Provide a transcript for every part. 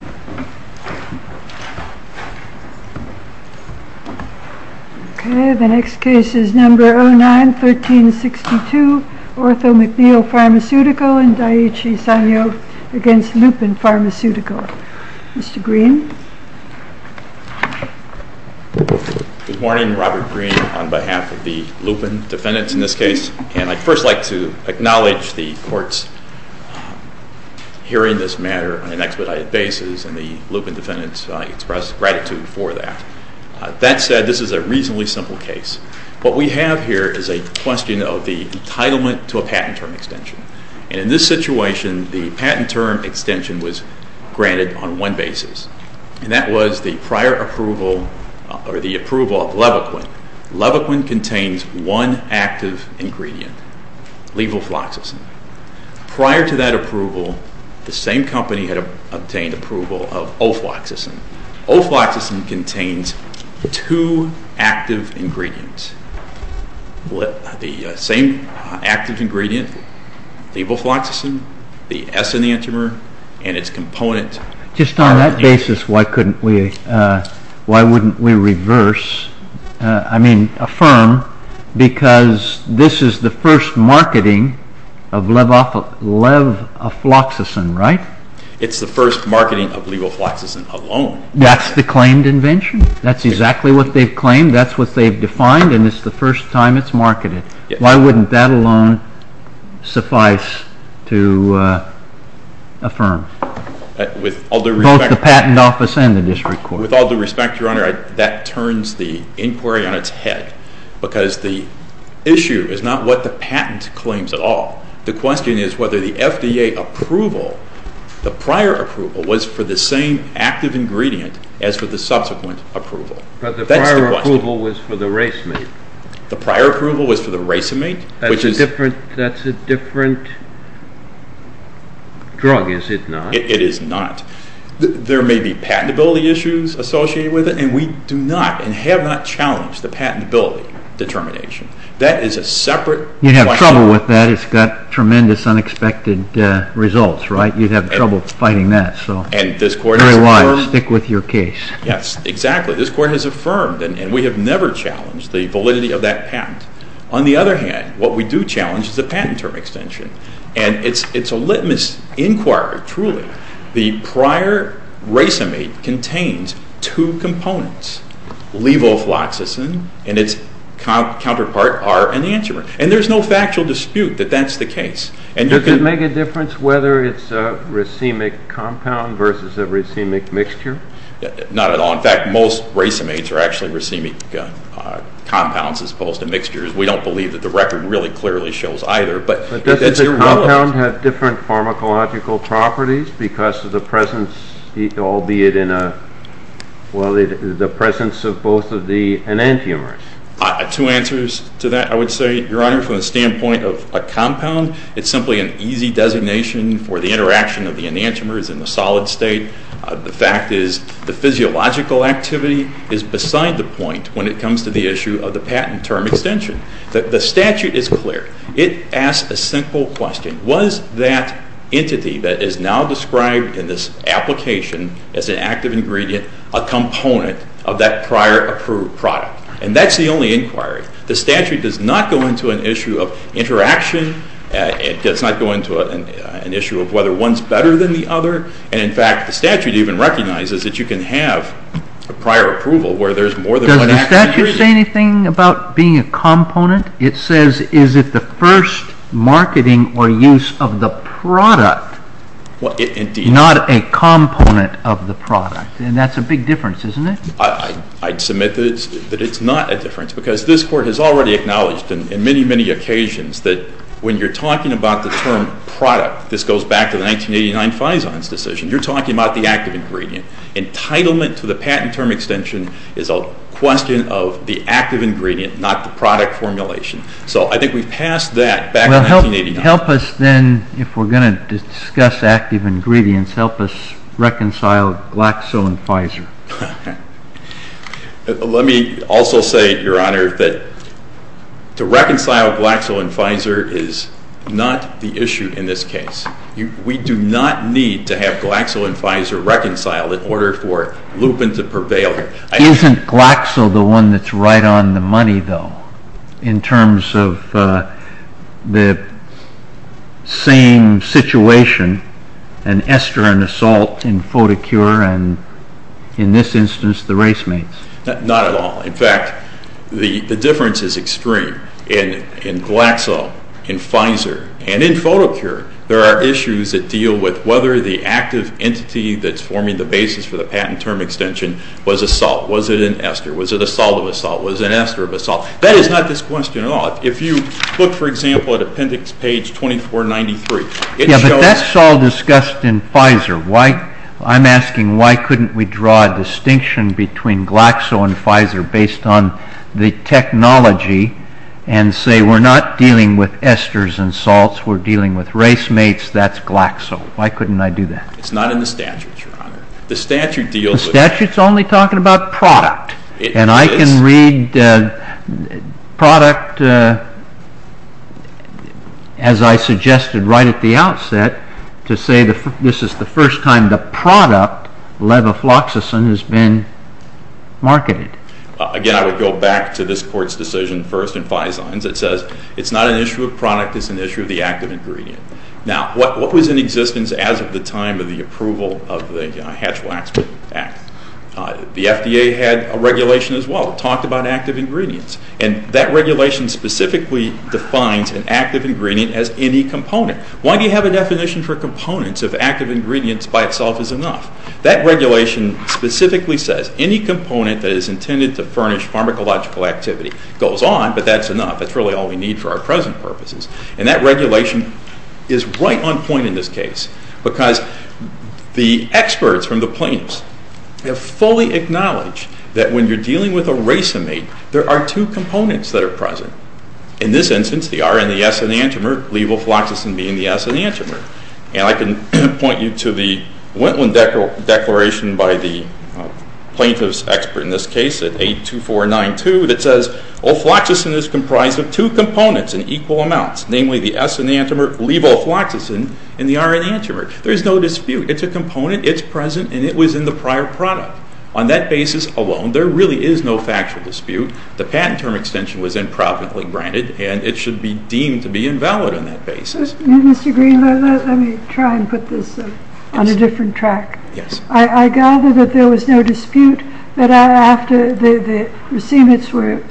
Good morning, Robert Green on behalf of the Lupin defendants in this case. I'd first like to acknowledge the court's hearing this matter on an expedited basis, and the Lupin defendants express gratitude for that. That said, this is a reasonably simple case. What we have here is a question of the entitlement to a patent term extension. And in this situation, the patent term extension was granted on one basis, and that was the prior approval, or the approval of Levaquin. Levaquin contains one active ingredient, levofloxacin. Prior to that approval, the same company had obtained approval of ofloxacin. Ofloxacin contains two active ingredients. The same active ingredient, levofloxacin, the S in the entromer, and its component. Just on that basis, why couldn't we, why wouldn't we reverse, I mean affirm, because this is the first marketing of levofloxacin, right? It's the first marketing of levofloxacin alone. That's the claimed invention? That's exactly what they've claimed, that's what they've defined, and it's the first time it's marketed. Why wouldn't that alone suffice to affirm? Both the patent office and the district court. With all due respect, Your Honor, that turns the inquiry on its head, because the issue is not what the patent claims at all. The prior approval was for the racemate. The prior approval was for the racemate? That's a different drug, is it not? It is not. There may be patentability issues associated with it, and we do not, and have not, challenged the patentability determination. That is a separate question. You'd have trouble with that, it's got tremendous unexpected results, right? You'd have trouble fighting that, so very wise, stick with your case. Yes, exactly. This Court has affirmed, and we have never challenged the validity of that patent. On the other hand, what we do challenge is the patent term extension, and it's a litmus inquiry, truly. The prior racemate contains two components, levofloxacin and its counterpart are an antimer. And there's no factual dispute that that's the case. Does it make a difference whether it's a racemic compound versus a racemic mixture? Not at all. In fact, most racemates are actually racemic compounds as opposed to mixtures. We don't believe that the record really clearly shows either. But does the compound have different pharmacological properties because of the presence, albeit in a, well, the presence of both of the enantiomers? Two answers to that, I would say. Your Honor, from the standpoint of a compound, it's simply an easy designation for the interaction of the enantiomers in the solid state. The fact is, the physiological activity is beside the point when it comes to the issue of the patent term extension. The statute is clear. It asks a simple question. Was that entity that is now described in this application as an active ingredient a component of that prior approved product? And that's the only inquiry. The statute does not go into an issue of interaction. It does not go into an issue of whether one's better than the other. And in fact, the statute even recognizes that you can have a prior approval where there's more than one active ingredient. Can you say anything about being a component? It says, is it the first marketing or use of the product, not a component of the product. And that's a big difference, isn't it? I'd submit that it's not a difference because this Court has already acknowledged in many, many occasions that when you're talking about the term product, this goes back to the 1989 Fison's decision. You're talking about the active ingredient. Entitlement to the patent term extension is a question of the active ingredient, not the product formulation. So I think we passed that back in 1989. Well, help us then, if we're going to discuss active ingredients, help us reconcile Glaxo and Pfizer. Let me also say, Your Honor, that to reconcile Glaxo and Pfizer is not the issue in this case. We do not need to have Glaxo and Pfizer reconcile in order for lupin to prevail. Isn't Glaxo the one that's right on the money, though, in terms of the same situation, an ester and assault in Photocure, and in this instance, the race mates? Not at all. In fact, the difference is extreme. In Glaxo, in Pfizer, and in Photocure, there are issues that deal with whether the active entity that's forming the basis for the patent term extension was a salt. Was it an ester? Was it a salt of a salt? Was it an ester of a salt? That is not this question at all. If you look, for example, at appendix page 2493, it shows That's all discussed in Pfizer. I'm asking why couldn't we draw a distinction between Glaxo and Pfizer based on the technology and say we're not dealing with esters and salts, we're dealing with race mates, that's Glaxo. Why couldn't I do that? It's not in the statutes, Your Honor. The statute deals with What about product? And I can read product, as I suggested right at the outset, to say this is the first time the product, levofloxacin, has been marketed. Again, I would go back to this Court's decision first in Fizon's. It says it's not an issue of product, it's an issue of the active ingredient. Now, what was in existence as of the time of the approval of the Hatch-Waxman Act? The FDA had a regulation as well that talked about active ingredients. And that regulation specifically defines an active ingredient as any component. Why do you have a definition for components if active ingredients by itself is enough? That regulation specifically says any component that is intended to furnish pharmacological activity goes on, but that's enough. That's really all we need for our present purposes. And that regulation is right on point in this case because the experts from the plaintiffs have fully acknowledged that when you're dealing with a race mate, there are two components that are present. In this instance, the R and the S enantiomer, levofloxacin being the S enantiomer. And I can point you to the Wendlandt Declaration by the plaintiff's expert in this case at 82492 that says, Ophloxacin is comprised of two components in equal amounts, namely the S enantiomer, levofloxacin, and the R enantiomer. There is no dispute. It's a component, it's present, and it was in the prior product. On that basis alone, there really is no factual dispute. The patent term extension was improperly granted, and it should be deemed to be invalid on that basis. Mr. Green, let me try and put this on a different track. Yes. I gather that there was no dispute that after the racemates were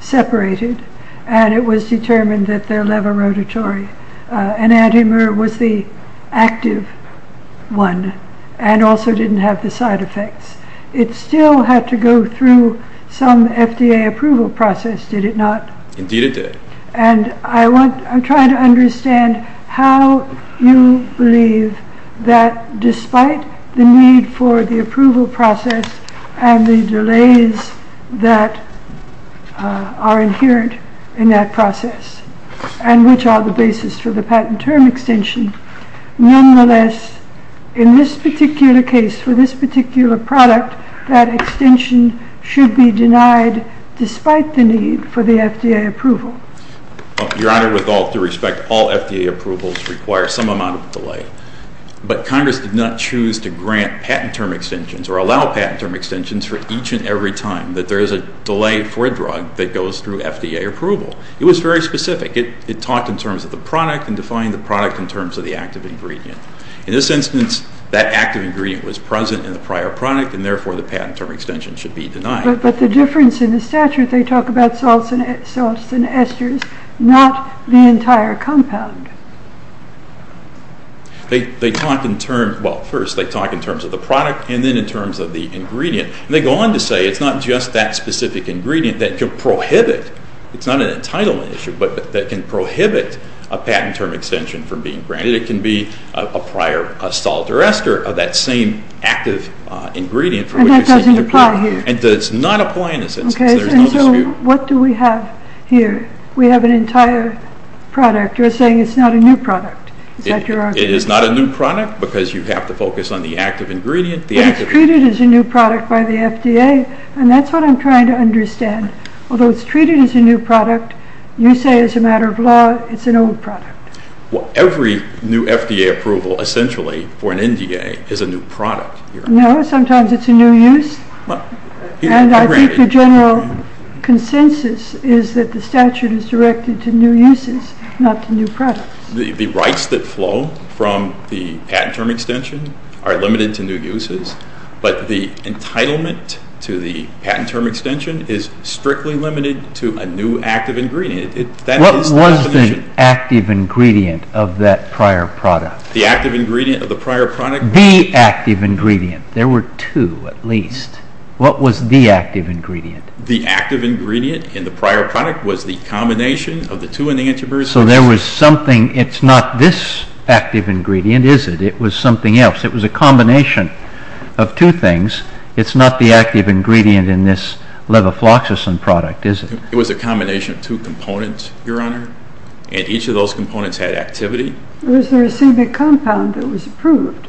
separated and it was determined that their levorotatory enantiomer was the active one and also didn't have the side effects. It still had to go through some FDA approval process, did it not? Indeed it did. And I'm trying to understand how you believe that despite the need for the approval process and the delays that are inherent in that process, and which are the basis for the patent term extension, nonetheless, in this particular case, for this particular product, that extension should be denied despite the need for the FDA approval? Your Honor, with all due respect, all FDA approvals require some amount of delay. But Congress did not choose to grant patent term extensions or allow patent term extensions for each and every time that there is a delay for a drug that goes through FDA approval. It was very specific. It talked in terms of the product and defined the product in terms of the active ingredient. In this instance, that active ingredient was present in the prior product and therefore the patent term extension should be denied. But the difference in the statute, they talk about salts and esters, not the entire compound. They talk in terms, well first they talk in terms of the product and then in terms of the ingredient. They go on to say it's not just that specific ingredient that can prohibit, it's not an entitlement issue, but that can prohibit a patent term extension from being granted. It can be a prior salt or ester of that same active ingredient. And that doesn't apply here? It does not apply in this instance. So what do we have here? We have an entire product. You're saying it's not a new product. Is that your argument? It is not a new product because you have to focus on the active ingredient. But it's treated as a new product by the FDA, and that's what I'm trying to understand. Although it's treated as a new product, you say as a matter of law it's an old product. Well, every new FDA approval essentially for an NDA is a new product. No, sometimes it's a new use. And I think the general consensus is that the statute is directed to new uses, not to new products. The rights that flow from the patent term extension are limited to new uses, but the entitlement to the patent term extension is strictly limited to a new active ingredient. What was the active ingredient of that prior product? The active ingredient of the prior product? The active ingredient. There were two at least. What was the active ingredient? The active ingredient in the prior product was the combination of the two enantiomers. So there was something. It's not this active ingredient, is it? It was something else. It was a combination of two things. It's not the active ingredient in this levofloxacin product, is it? It was a combination of two components, Your Honor, and each of those components had activity. It was the racemic compound that was approved.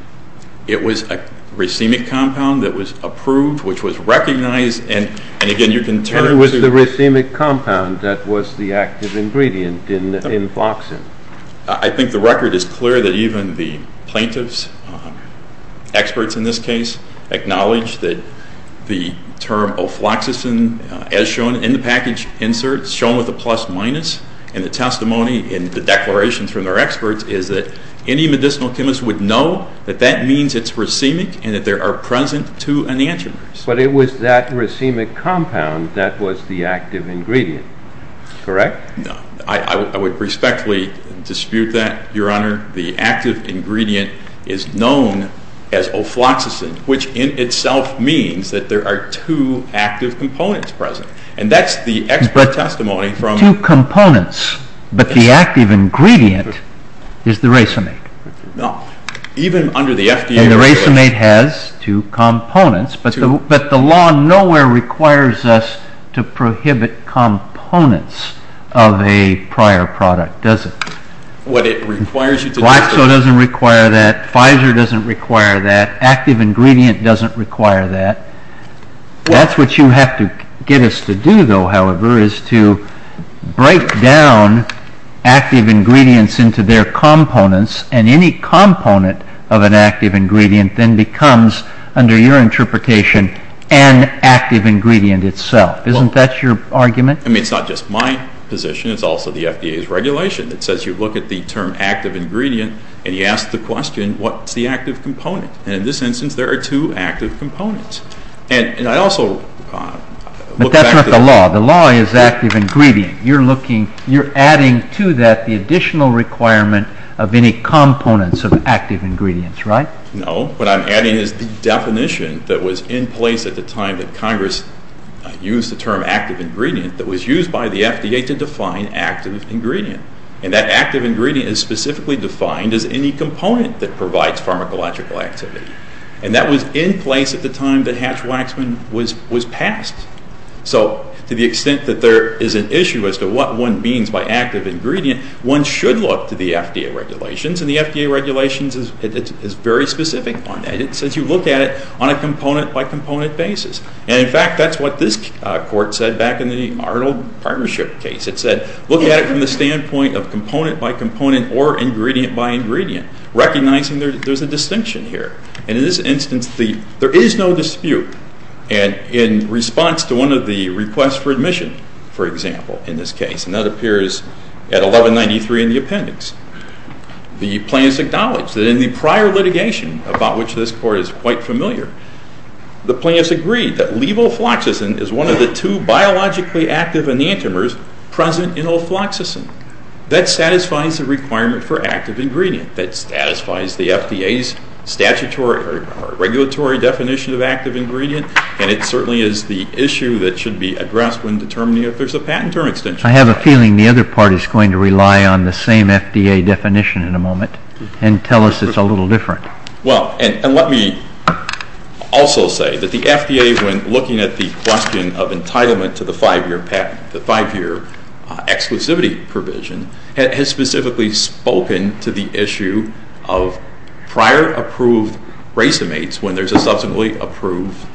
It was a racemic compound that was approved, which was recognized. And again, you can turn it. It was the racemic compound that was the active ingredient in floxacin. I think the record is clear that even the plaintiffs, experts in this case, acknowledge that the term ofloxacin, as shown in the package insert, shown with a plus minus, and the testimony and the declarations from their experts is that any medicinal chemist would know that that means it's racemic and that there are present two enantiomers. But it was that racemic compound that was the active ingredient, correct? No. I would respectfully dispute that, Your Honor. The active ingredient is known as ofloxacin, which in itself means that there are two active components present. And that's the expert testimony from— Two components, but the active ingredient is the racemate. No. Even under the FDA regulation— And the racemate has two components, but the law nowhere requires us to prohibit components of a prior product, does it? What it requires you to do is— Flaxo doesn't require that. Pfizer doesn't require that. Active ingredient doesn't require that. That's what you have to get us to do, though, however, is to break down active ingredients into their components, and any component of an active ingredient then becomes, under your interpretation, an active ingredient itself. Isn't that your argument? I mean, it's not just my position. It's also the FDA's regulation. It says you look at the term active ingredient, and you ask the question, what's the active component? And in this instance, there are two active components. And I also look back— But that's not the law. The law is active ingredient. You're adding to that the additional requirement of any components of active ingredients, right? No. What I'm adding is the definition that was in place at the time that Congress used the term active ingredient that was used by the FDA to define active ingredient. And that active ingredient is specifically defined as any component that provides pharmacological activity. And that was in place at the time that Hatch-Waxman was passed. So to the extent that there is an issue as to what one means by active ingredient, one should look to the FDA regulations, and the FDA regulations is very specific on that. It says you look at it on a component-by-component basis. And in fact, that's what this court said back in the Arnold Partnership case. It said, look at it from the standpoint of component-by-component or ingredient-by-ingredient, recognizing there's a distinction here. And in this instance, there is no dispute. And in response to one of the requests for admission, for example, in this case, and that appears at 1193 in the appendix, the plaintiffs acknowledged that in the prior litigation, about which this court is quite familiar, the plaintiffs agreed that levofloxacin is one of the two biologically active enantiomers present in ofloxacin. That satisfies the requirement for active ingredient. That satisfies the FDA's statutory or regulatory definition of active ingredient. And it certainly is the issue that should be addressed when determining if there's a patent or extension. I have a feeling the other part is going to rely on the same FDA definition in a moment and tell us it's a little different. Well, and let me also say that the FDA, when looking at the question of entitlement to the five-year exclusivity provision, has specifically spoken to the issue of prior approved racemates when there's a subsequently approved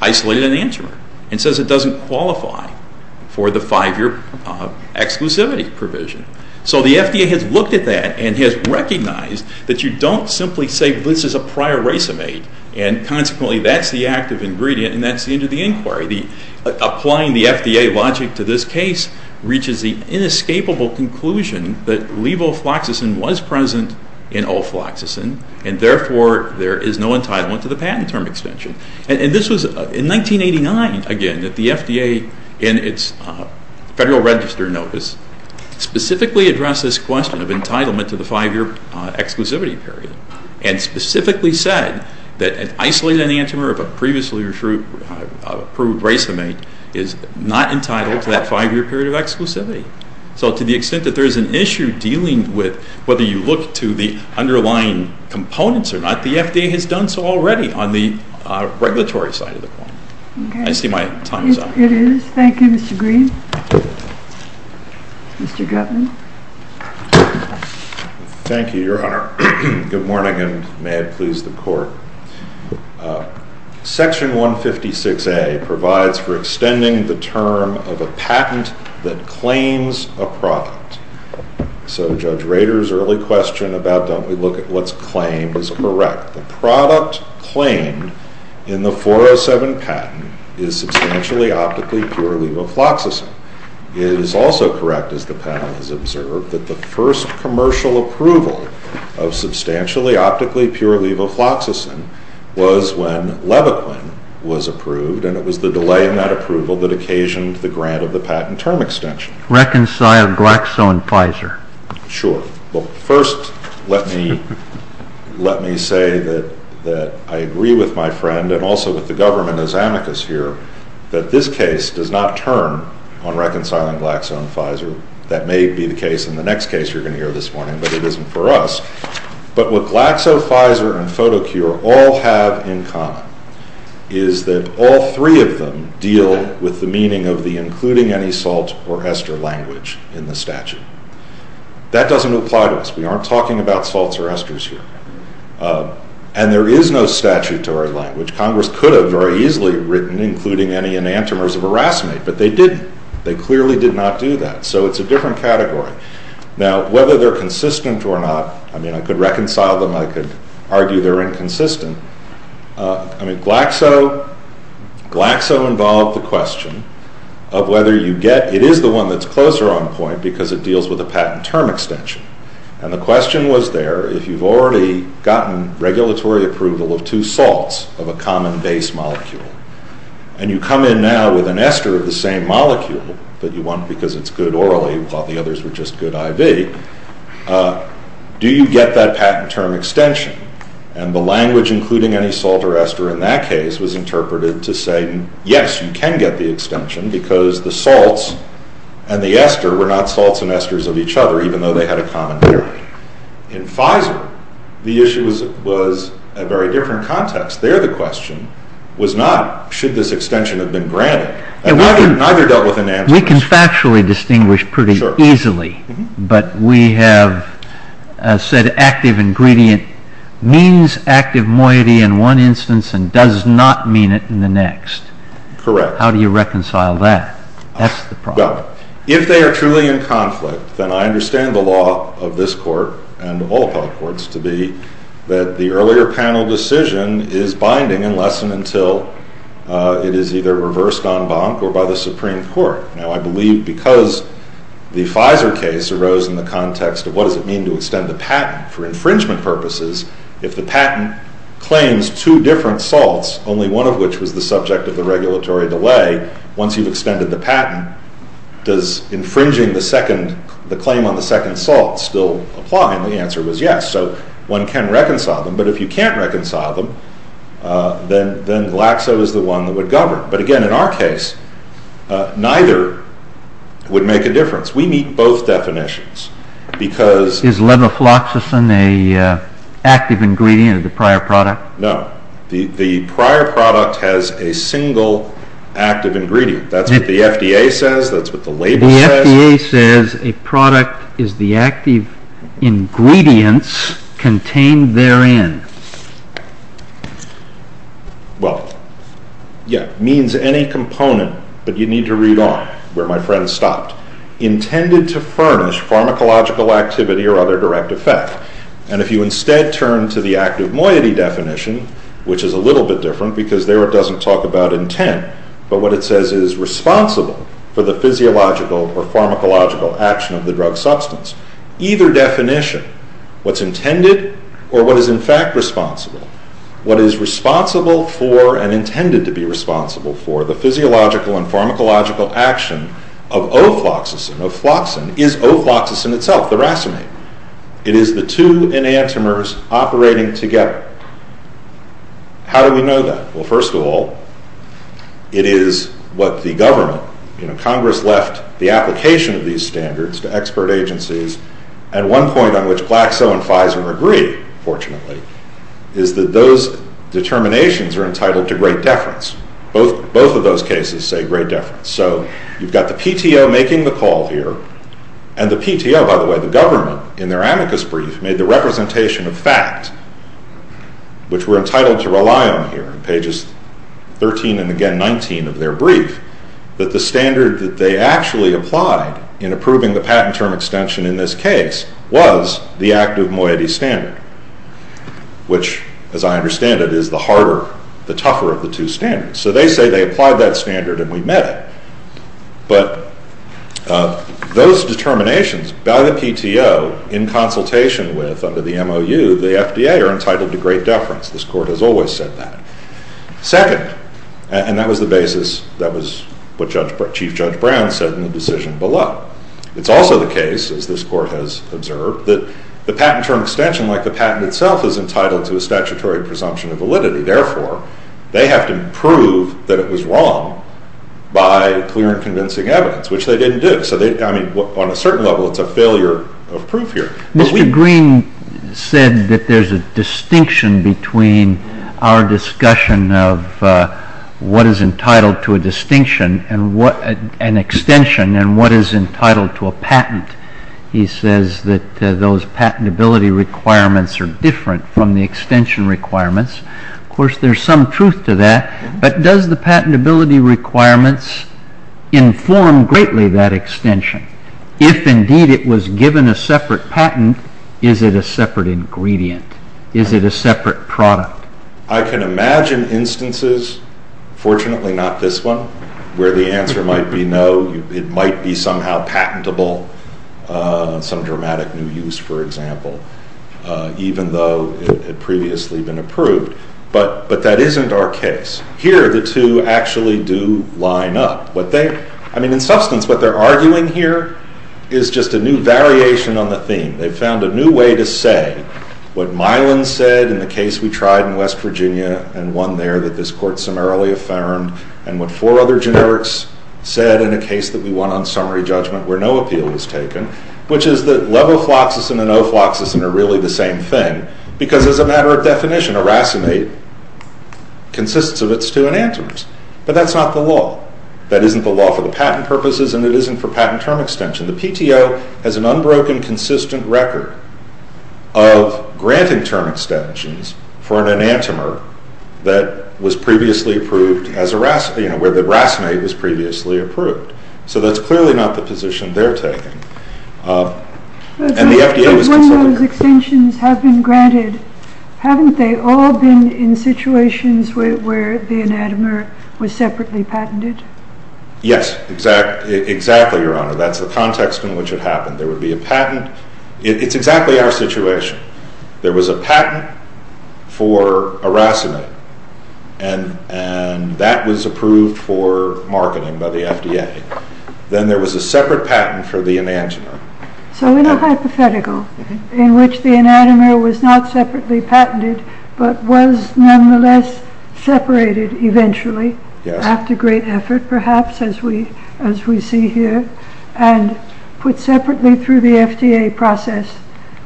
isolated enantiomer and says it doesn't qualify for the five-year exclusivity provision. So the FDA has looked at that and has recognized that you don't simply say this is a prior racemate and consequently that's the active ingredient and that's the end of the inquiry. Applying the FDA logic to this case reaches the inescapable conclusion that levofloxacin was present in ofloxacin and therefore there is no entitlement to the patent term extension. And this was in 1989, again, that the FDA in its federal register notice specifically addressed this question of entitlement to the five-year exclusivity period and specifically said that an isolated enantiomer of a previously approved racemate is not entitled to that five-year period of exclusivity. So to the extent that there is an issue dealing with whether you look to the underlying components or not, the FDA has done so already on the regulatory side of the point. I see my time is up. It is. Thank you, Mr. Green. Mr. Gutman. Thank you, Your Honor. Good morning and may it please the Court. Section 156A provides for extending the term of a patent that claims a product. So Judge Rader's early question about don't we look at what's claimed is correct. The product claimed in the 407 patent is substantially optically pure levofloxacin. It is also correct, as the panel has observed, that the first commercial approval of substantially optically pure levofloxacin was when Levaquin was approved, and it was the delay in that approval that occasioned the grant of the patent term extension. Reconcile Glaxo and Pfizer. Sure. Well, first let me say that I agree with my friend and also with the government as amicus here that this case does not turn on reconciling Glaxo and Pfizer. That may be the case in the next case you're going to hear this morning, but it isn't for us. But what Glaxo, Pfizer, and Photocure all have in common is that all three of them deal with the meaning of the including any salt or ester language in the statute. That doesn't apply to us. We aren't talking about salts or esters here. And there is no statutory language. Congress could have very easily written including any enantiomers of aracinate, but they didn't. They clearly did not do that. So it's a different category. Now, whether they're consistent or not, I mean, I could reconcile them. I could argue they're inconsistent. I mean, Glaxo involved the question of whether you get it is the one that's closer on point because it deals with a patent term extension. And the question was there, if you've already gotten regulatory approval of two salts of a common base molecule and you come in now with an ester of the same molecule, but you want because it's good orally and thought the others were just good IV, do you get that patent term extension? And the language including any salt or ester in that case was interpreted to say, yes, you can get the extension because the salts and the ester were not salts and esters of each other, even though they had a common bearing. In Pfizer, the issue was a very different context. There the question was not should this extension have been granted. And neither dealt with enantiomers. We can factually distinguish pretty easily, but we have said active ingredient means active moiety in one instance and does not mean it in the next. Correct. How do you reconcile that? That's the problem. Well, if they are truly in conflict, then I understand the law of this court and all appellate courts to be that the earlier panel decision is binding unless and until it is either reversed en banc or by the Supreme Court. Now, I believe because the Pfizer case arose in the context of what does it mean to extend the patent for infringement purposes, if the patent claims two different salts, only one of which was the subject of the regulatory delay, once you've extended the patent, does infringing the claim on the second salt still apply? And the answer was yes. So one can reconcile them. But if you can't reconcile them, then Glaxo is the one that would govern. But again, in our case, neither would make a difference. We meet both definitions. Is levofloxacin an active ingredient of the prior product? No. The prior product has a single active ingredient. That's what the FDA says. That's what the label says. The FDA says a product is the active ingredients contained therein. Well, yeah, means any component, but you need to read on where my friend stopped. Intended to furnish pharmacological activity or other direct effect. And if you instead turn to the active moiety definition, which is a little bit different because there it doesn't talk about intent, but what it says is responsible for the physiological or pharmacological action of the drug substance. Either definition, what's intended or what is in fact responsible, what is responsible for and intended to be responsible for the physiological and pharmacological action of ofloxacin, ofloxacin is ofloxacin itself, the racemate. It is the two enantiomers operating together. How do we know that? Well, first of all, it is what the government, Congress left the application of these standards to expert agencies and one point on which Glaxo and Pfizer agree, fortunately, is that those determinations are entitled to great deference. Both of those cases say great deference. So you've got the PTO making the call here and the PTO, by the way, the government, in their amicus brief, made the representation of fact, which we're entitled to rely on here, pages 13 and again 19 of their brief, that the standard that they actually applied in approving the patent term extension in this case was the active moiety standard, which, as I understand it, is the harder, the tougher of the two standards. So they say they applied that standard and we met it. But those determinations, by the PTO, in consultation with, under the MOU, the FDA are entitled to great deference. This Court has always said that. Second, and that was the basis, that was what Chief Judge Brown said in the decision below, it's also the case, as this Court has observed, that the patent term extension, like the patent itself, is entitled to a statutory presumption of validity. Therefore, they have to prove that it was wrong by clear and convincing evidence, which they didn't do. On a certain level, it's a failure of proof here. Mr. Green said that there's a distinction between our discussion of what is entitled to a distinction, an extension, and what is entitled to a patent. He says that those patentability requirements are different from the extension requirements. Of course, there's some truth to that, but does the patentability requirements inform greatly that extension? If, indeed, it was given a separate patent, is it a separate ingredient? Is it a separate product? I can imagine instances, fortunately not this one, where the answer might be no, it might be somehow patentable, some dramatic new use, for example, even though it had previously been approved. But that isn't our case. Here, the two actually do line up. I mean, in substance, what they're arguing here is just a new variation on the theme. They've found a new way to say what Milan said in the case we tried in West Virginia and won there that this court summarily affirmed, and what four other generics said in a case that we won on summary judgment where no appeal was taken, which is that levofloxacin and ofloxacin are really the same thing, because as a matter of definition, aracinate consists of its two enantiomers. But that's not the law. That isn't the law for the patent purposes, and it isn't for patent term extension. The PTO has an unbroken, consistent record of granting term extensions for an enantiomer that was previously approved as aracinate, where the aracinate was previously approved. So that's clearly not the position they're taking. And the FDA was considering... But when those extensions have been granted, haven't they all been in situations where the enantiomer was separately patented? Yes, exactly, Your Honor. That's the context in which it happened. There would be a patent. It's exactly our situation. There was a patent for aracinate, and that was approved for marketing by the FDA. Then there was a separate patent for the enantiomer. So in a hypothetical, in which the enantiomer was not separately patented, but was nonetheless separated eventually, after great effort perhaps, as we see here, and put separately through the FDA process,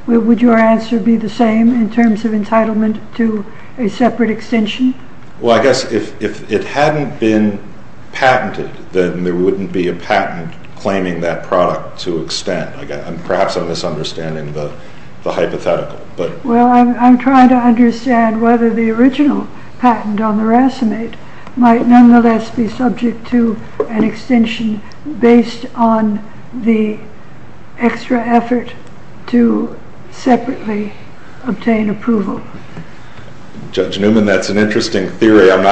would your answer be the same in terms of entitlement to a separate extension? Well, I guess if it hadn't been patented, then there wouldn't be a patent claiming that product to extent. Perhaps I'm misunderstanding the hypothetical. Well, I'm trying to understand whether the original patent on the aracinate might nonetheless be subject to an extension based on the extra effort to separately obtain approval. Judge Newman, that's an interesting theory. I've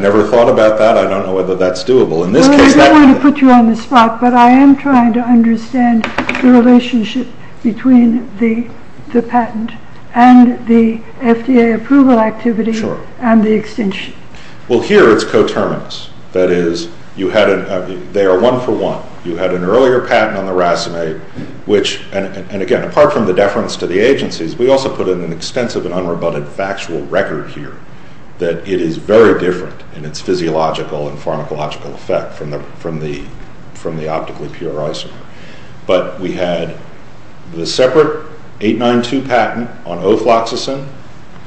never thought about that. I don't know whether that's doable. Well, I don't want to put you on the spot, but I am trying to understand the relationship between the patent and the FDA approval activity and the extension. Well, here it's coterminous. That is, they are one for one. You had an earlier patent on the aracinate, and again, apart from the deference to the agencies, we also put in an extensive and unrebutted factual record here that it is very different in its physiological and pharmacological effect from the optically pure isomer. But we had the separate 892 patent on ofloxacin,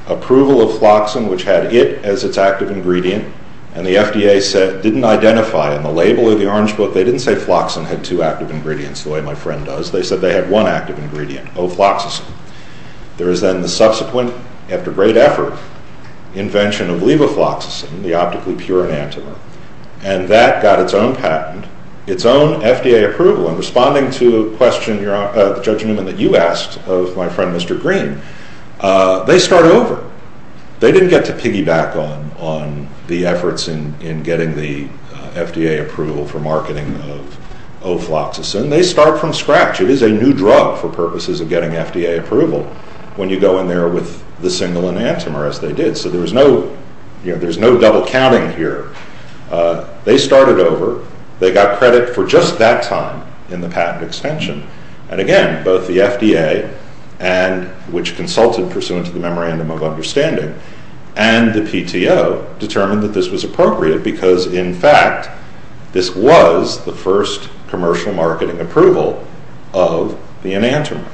approval of floxacin, which had it as its active ingredient, and the FDA didn't identify in the label or the orange book, they didn't say floxacin had two active ingredients the way my friend does. They said they had one active ingredient, ofloxacin. There is then the subsequent, after great effort, invention of levofloxacin, the optically pure enantiomer, and that got its own patent, its own FDA approval, and responding to the question, Judge Newman, that you asked of my friend Mr. Green, they start over. They didn't get to piggyback on the efforts in getting the FDA approval for marketing of ofloxacin. They start from scratch. It is a new drug for purposes of getting FDA approval when you go in there with the single enantiomer, as they did. So there's no double counting here. They started over. They got credit for just that time in the patent extension. And again, both the FDA, which consulted pursuant to the memorandum of understanding, and the PTO determined that this was appropriate because, in fact, this was the first commercial marketing approval of the enantiomer.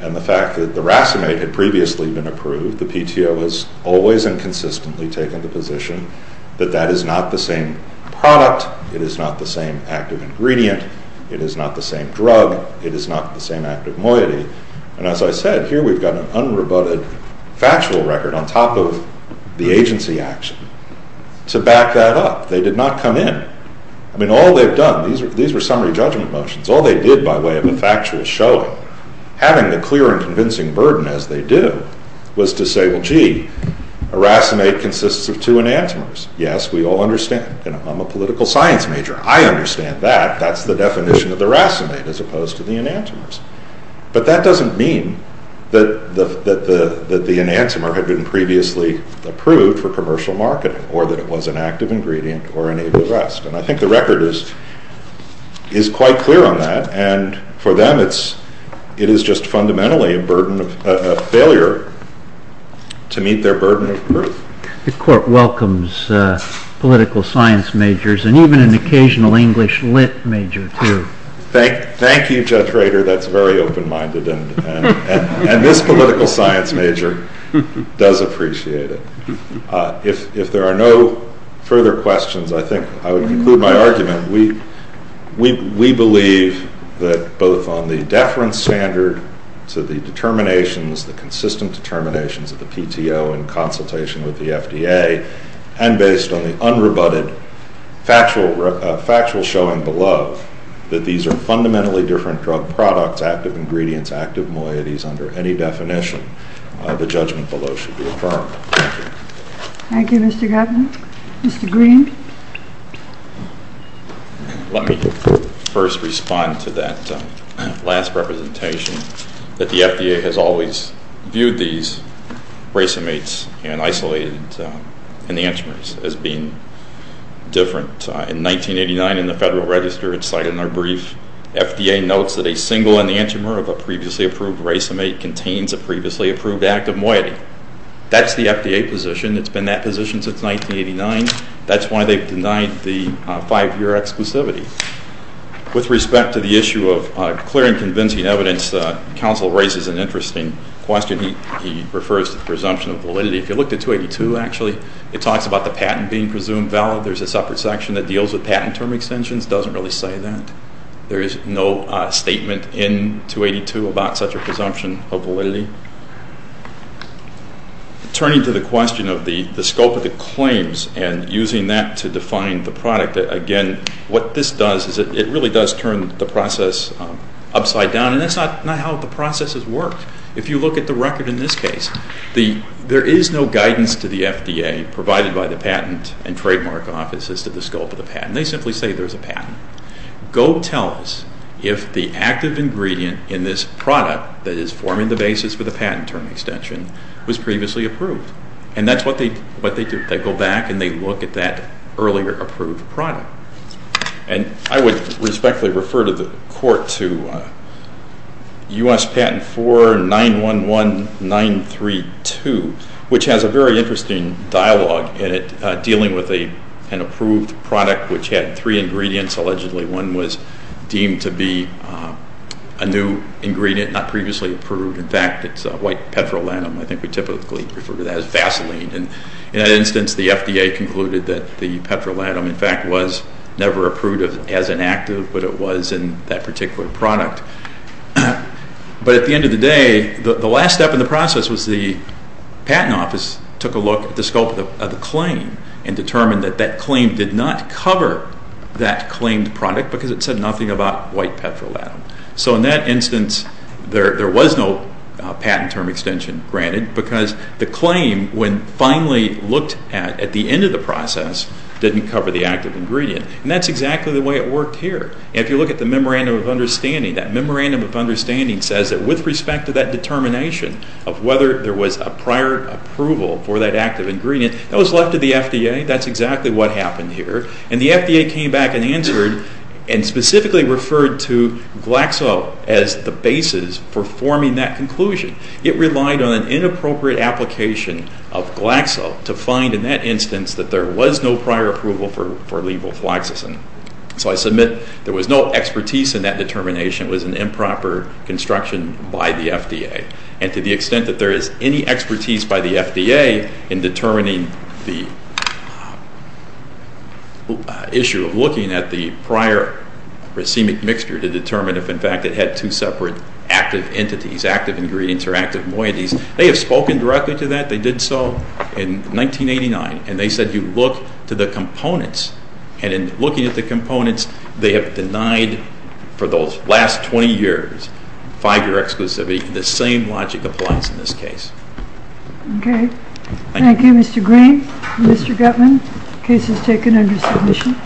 And the fact that the racemate had previously been approved, the PTO has always and consistently taken the position that that is not the same product, it is not the same active ingredient, it is not the same drug, it is not the same active moiety. And as I said, here we've got an unrebutted factual record on top of the agency action. To back that up, they did not come in. I mean, all they've done, these were summary judgment motions, all they did by way of a factual showing, having the clear and convincing burden, as they do, was to say, well, gee, a racemate consists of two enantiomers. Yes, we all understand. I'm a political science major. I understand that. That's the definition of the racemate, as opposed to the enantiomers. But that doesn't mean that the enantiomer had been previously approved for commercial marketing or that it was an active ingredient or enabled arrest. And I think the record is quite clear on that, and for them it is just fundamentally a failure to meet their burden of proof. The Court welcomes political science majors and even an occasional English lit major, too. Thank you, Judge Rader. That's very open-minded. And this political science major does appreciate it. If there are no further questions, I think I would conclude my argument. We believe that both on the deference standard to the determinations, the consistent determinations of the PTO in consultation with the FDA, and based on the unrebutted factual showing below, that these are fundamentally different drug products, active ingredients, active moieties, under any definition the judgment below should be affirmed. Thank you. Thank you, Mr. Governor. Mr. Green. Let me first respond to that last representation, that the FDA has always viewed these racemates and isolated enantiomers as being different. In 1989 in the Federal Register, it's cited in our brief, FDA notes that a single enantiomer of a previously approved racemate contains a previously approved active moiety. That's the FDA position. It's been that position since 1989. That's why they've denied the five-year exclusivity. With respect to the issue of clear and convincing evidence, counsel raises an interesting question. He refers to the presumption of validity. If you look at 282, actually, it talks about the patent being presumed valid. There's a separate section that deals with patent term extensions. It doesn't really say that. There is no statement in 282 about such a presumption of validity. Turning to the question of the scope of the claims and using that to define the product, again, what this does is it really does turn the process upside down, and that's not how the process has worked. If you look at the record in this case, there is no guidance to the FDA provided by the patent and trademark offices to the scope of the patent. They simply say there's a patent. Go tell us if the active ingredient in this product that is forming the basis for the patent term extension was previously approved. And that's what they do. They go back and they look at that earlier approved product. And I would respectfully refer the court to U.S. Patent 4911932, which has a very interesting dialogue in it and approved product which had three ingredients, allegedly. One was deemed to be a new ingredient, not previously approved. In fact, it's a white petrolatum. I think we typically refer to that as Vaseline. And in that instance, the FDA concluded that the petrolatum, in fact, was never approved as an active, but it was in that particular product. But at the end of the day, the last step in the process was the patent office took a look at the scope of the claim and determined that that claim did not cover that claimed product because it said nothing about white petrolatum. So in that instance, there was no patent term extension granted because the claim, when finally looked at at the end of the process, didn't cover the active ingredient. And that's exactly the way it worked here. If you look at the Memorandum of Understanding, that Memorandum of Understanding says that with respect to that determination of whether there was a prior approval for that active ingredient, that was left to the FDA. That's exactly what happened here. And the FDA came back and answered and specifically referred to Glaxo as the basis for forming that conclusion. It relied on an inappropriate application of Glaxo to find in that instance that there was no prior approval for levoflaxacin. So I submit there was no expertise in that determination. It was an improper construction by the FDA. And to the extent that there is any expertise by the FDA in determining the issue of looking at the prior racemic mixture to determine if, in fact, it had two separate active entities, active ingredients or active moieties, they have spoken directly to that. They did so in 1989. And they said you look to the components. And in looking at the components, they have denied for those last 20 years, 5-year exclusivity, the same logic applies in this case. Okay. Thank you, Mr. Green. Mr. Gutman, case is taken under submission.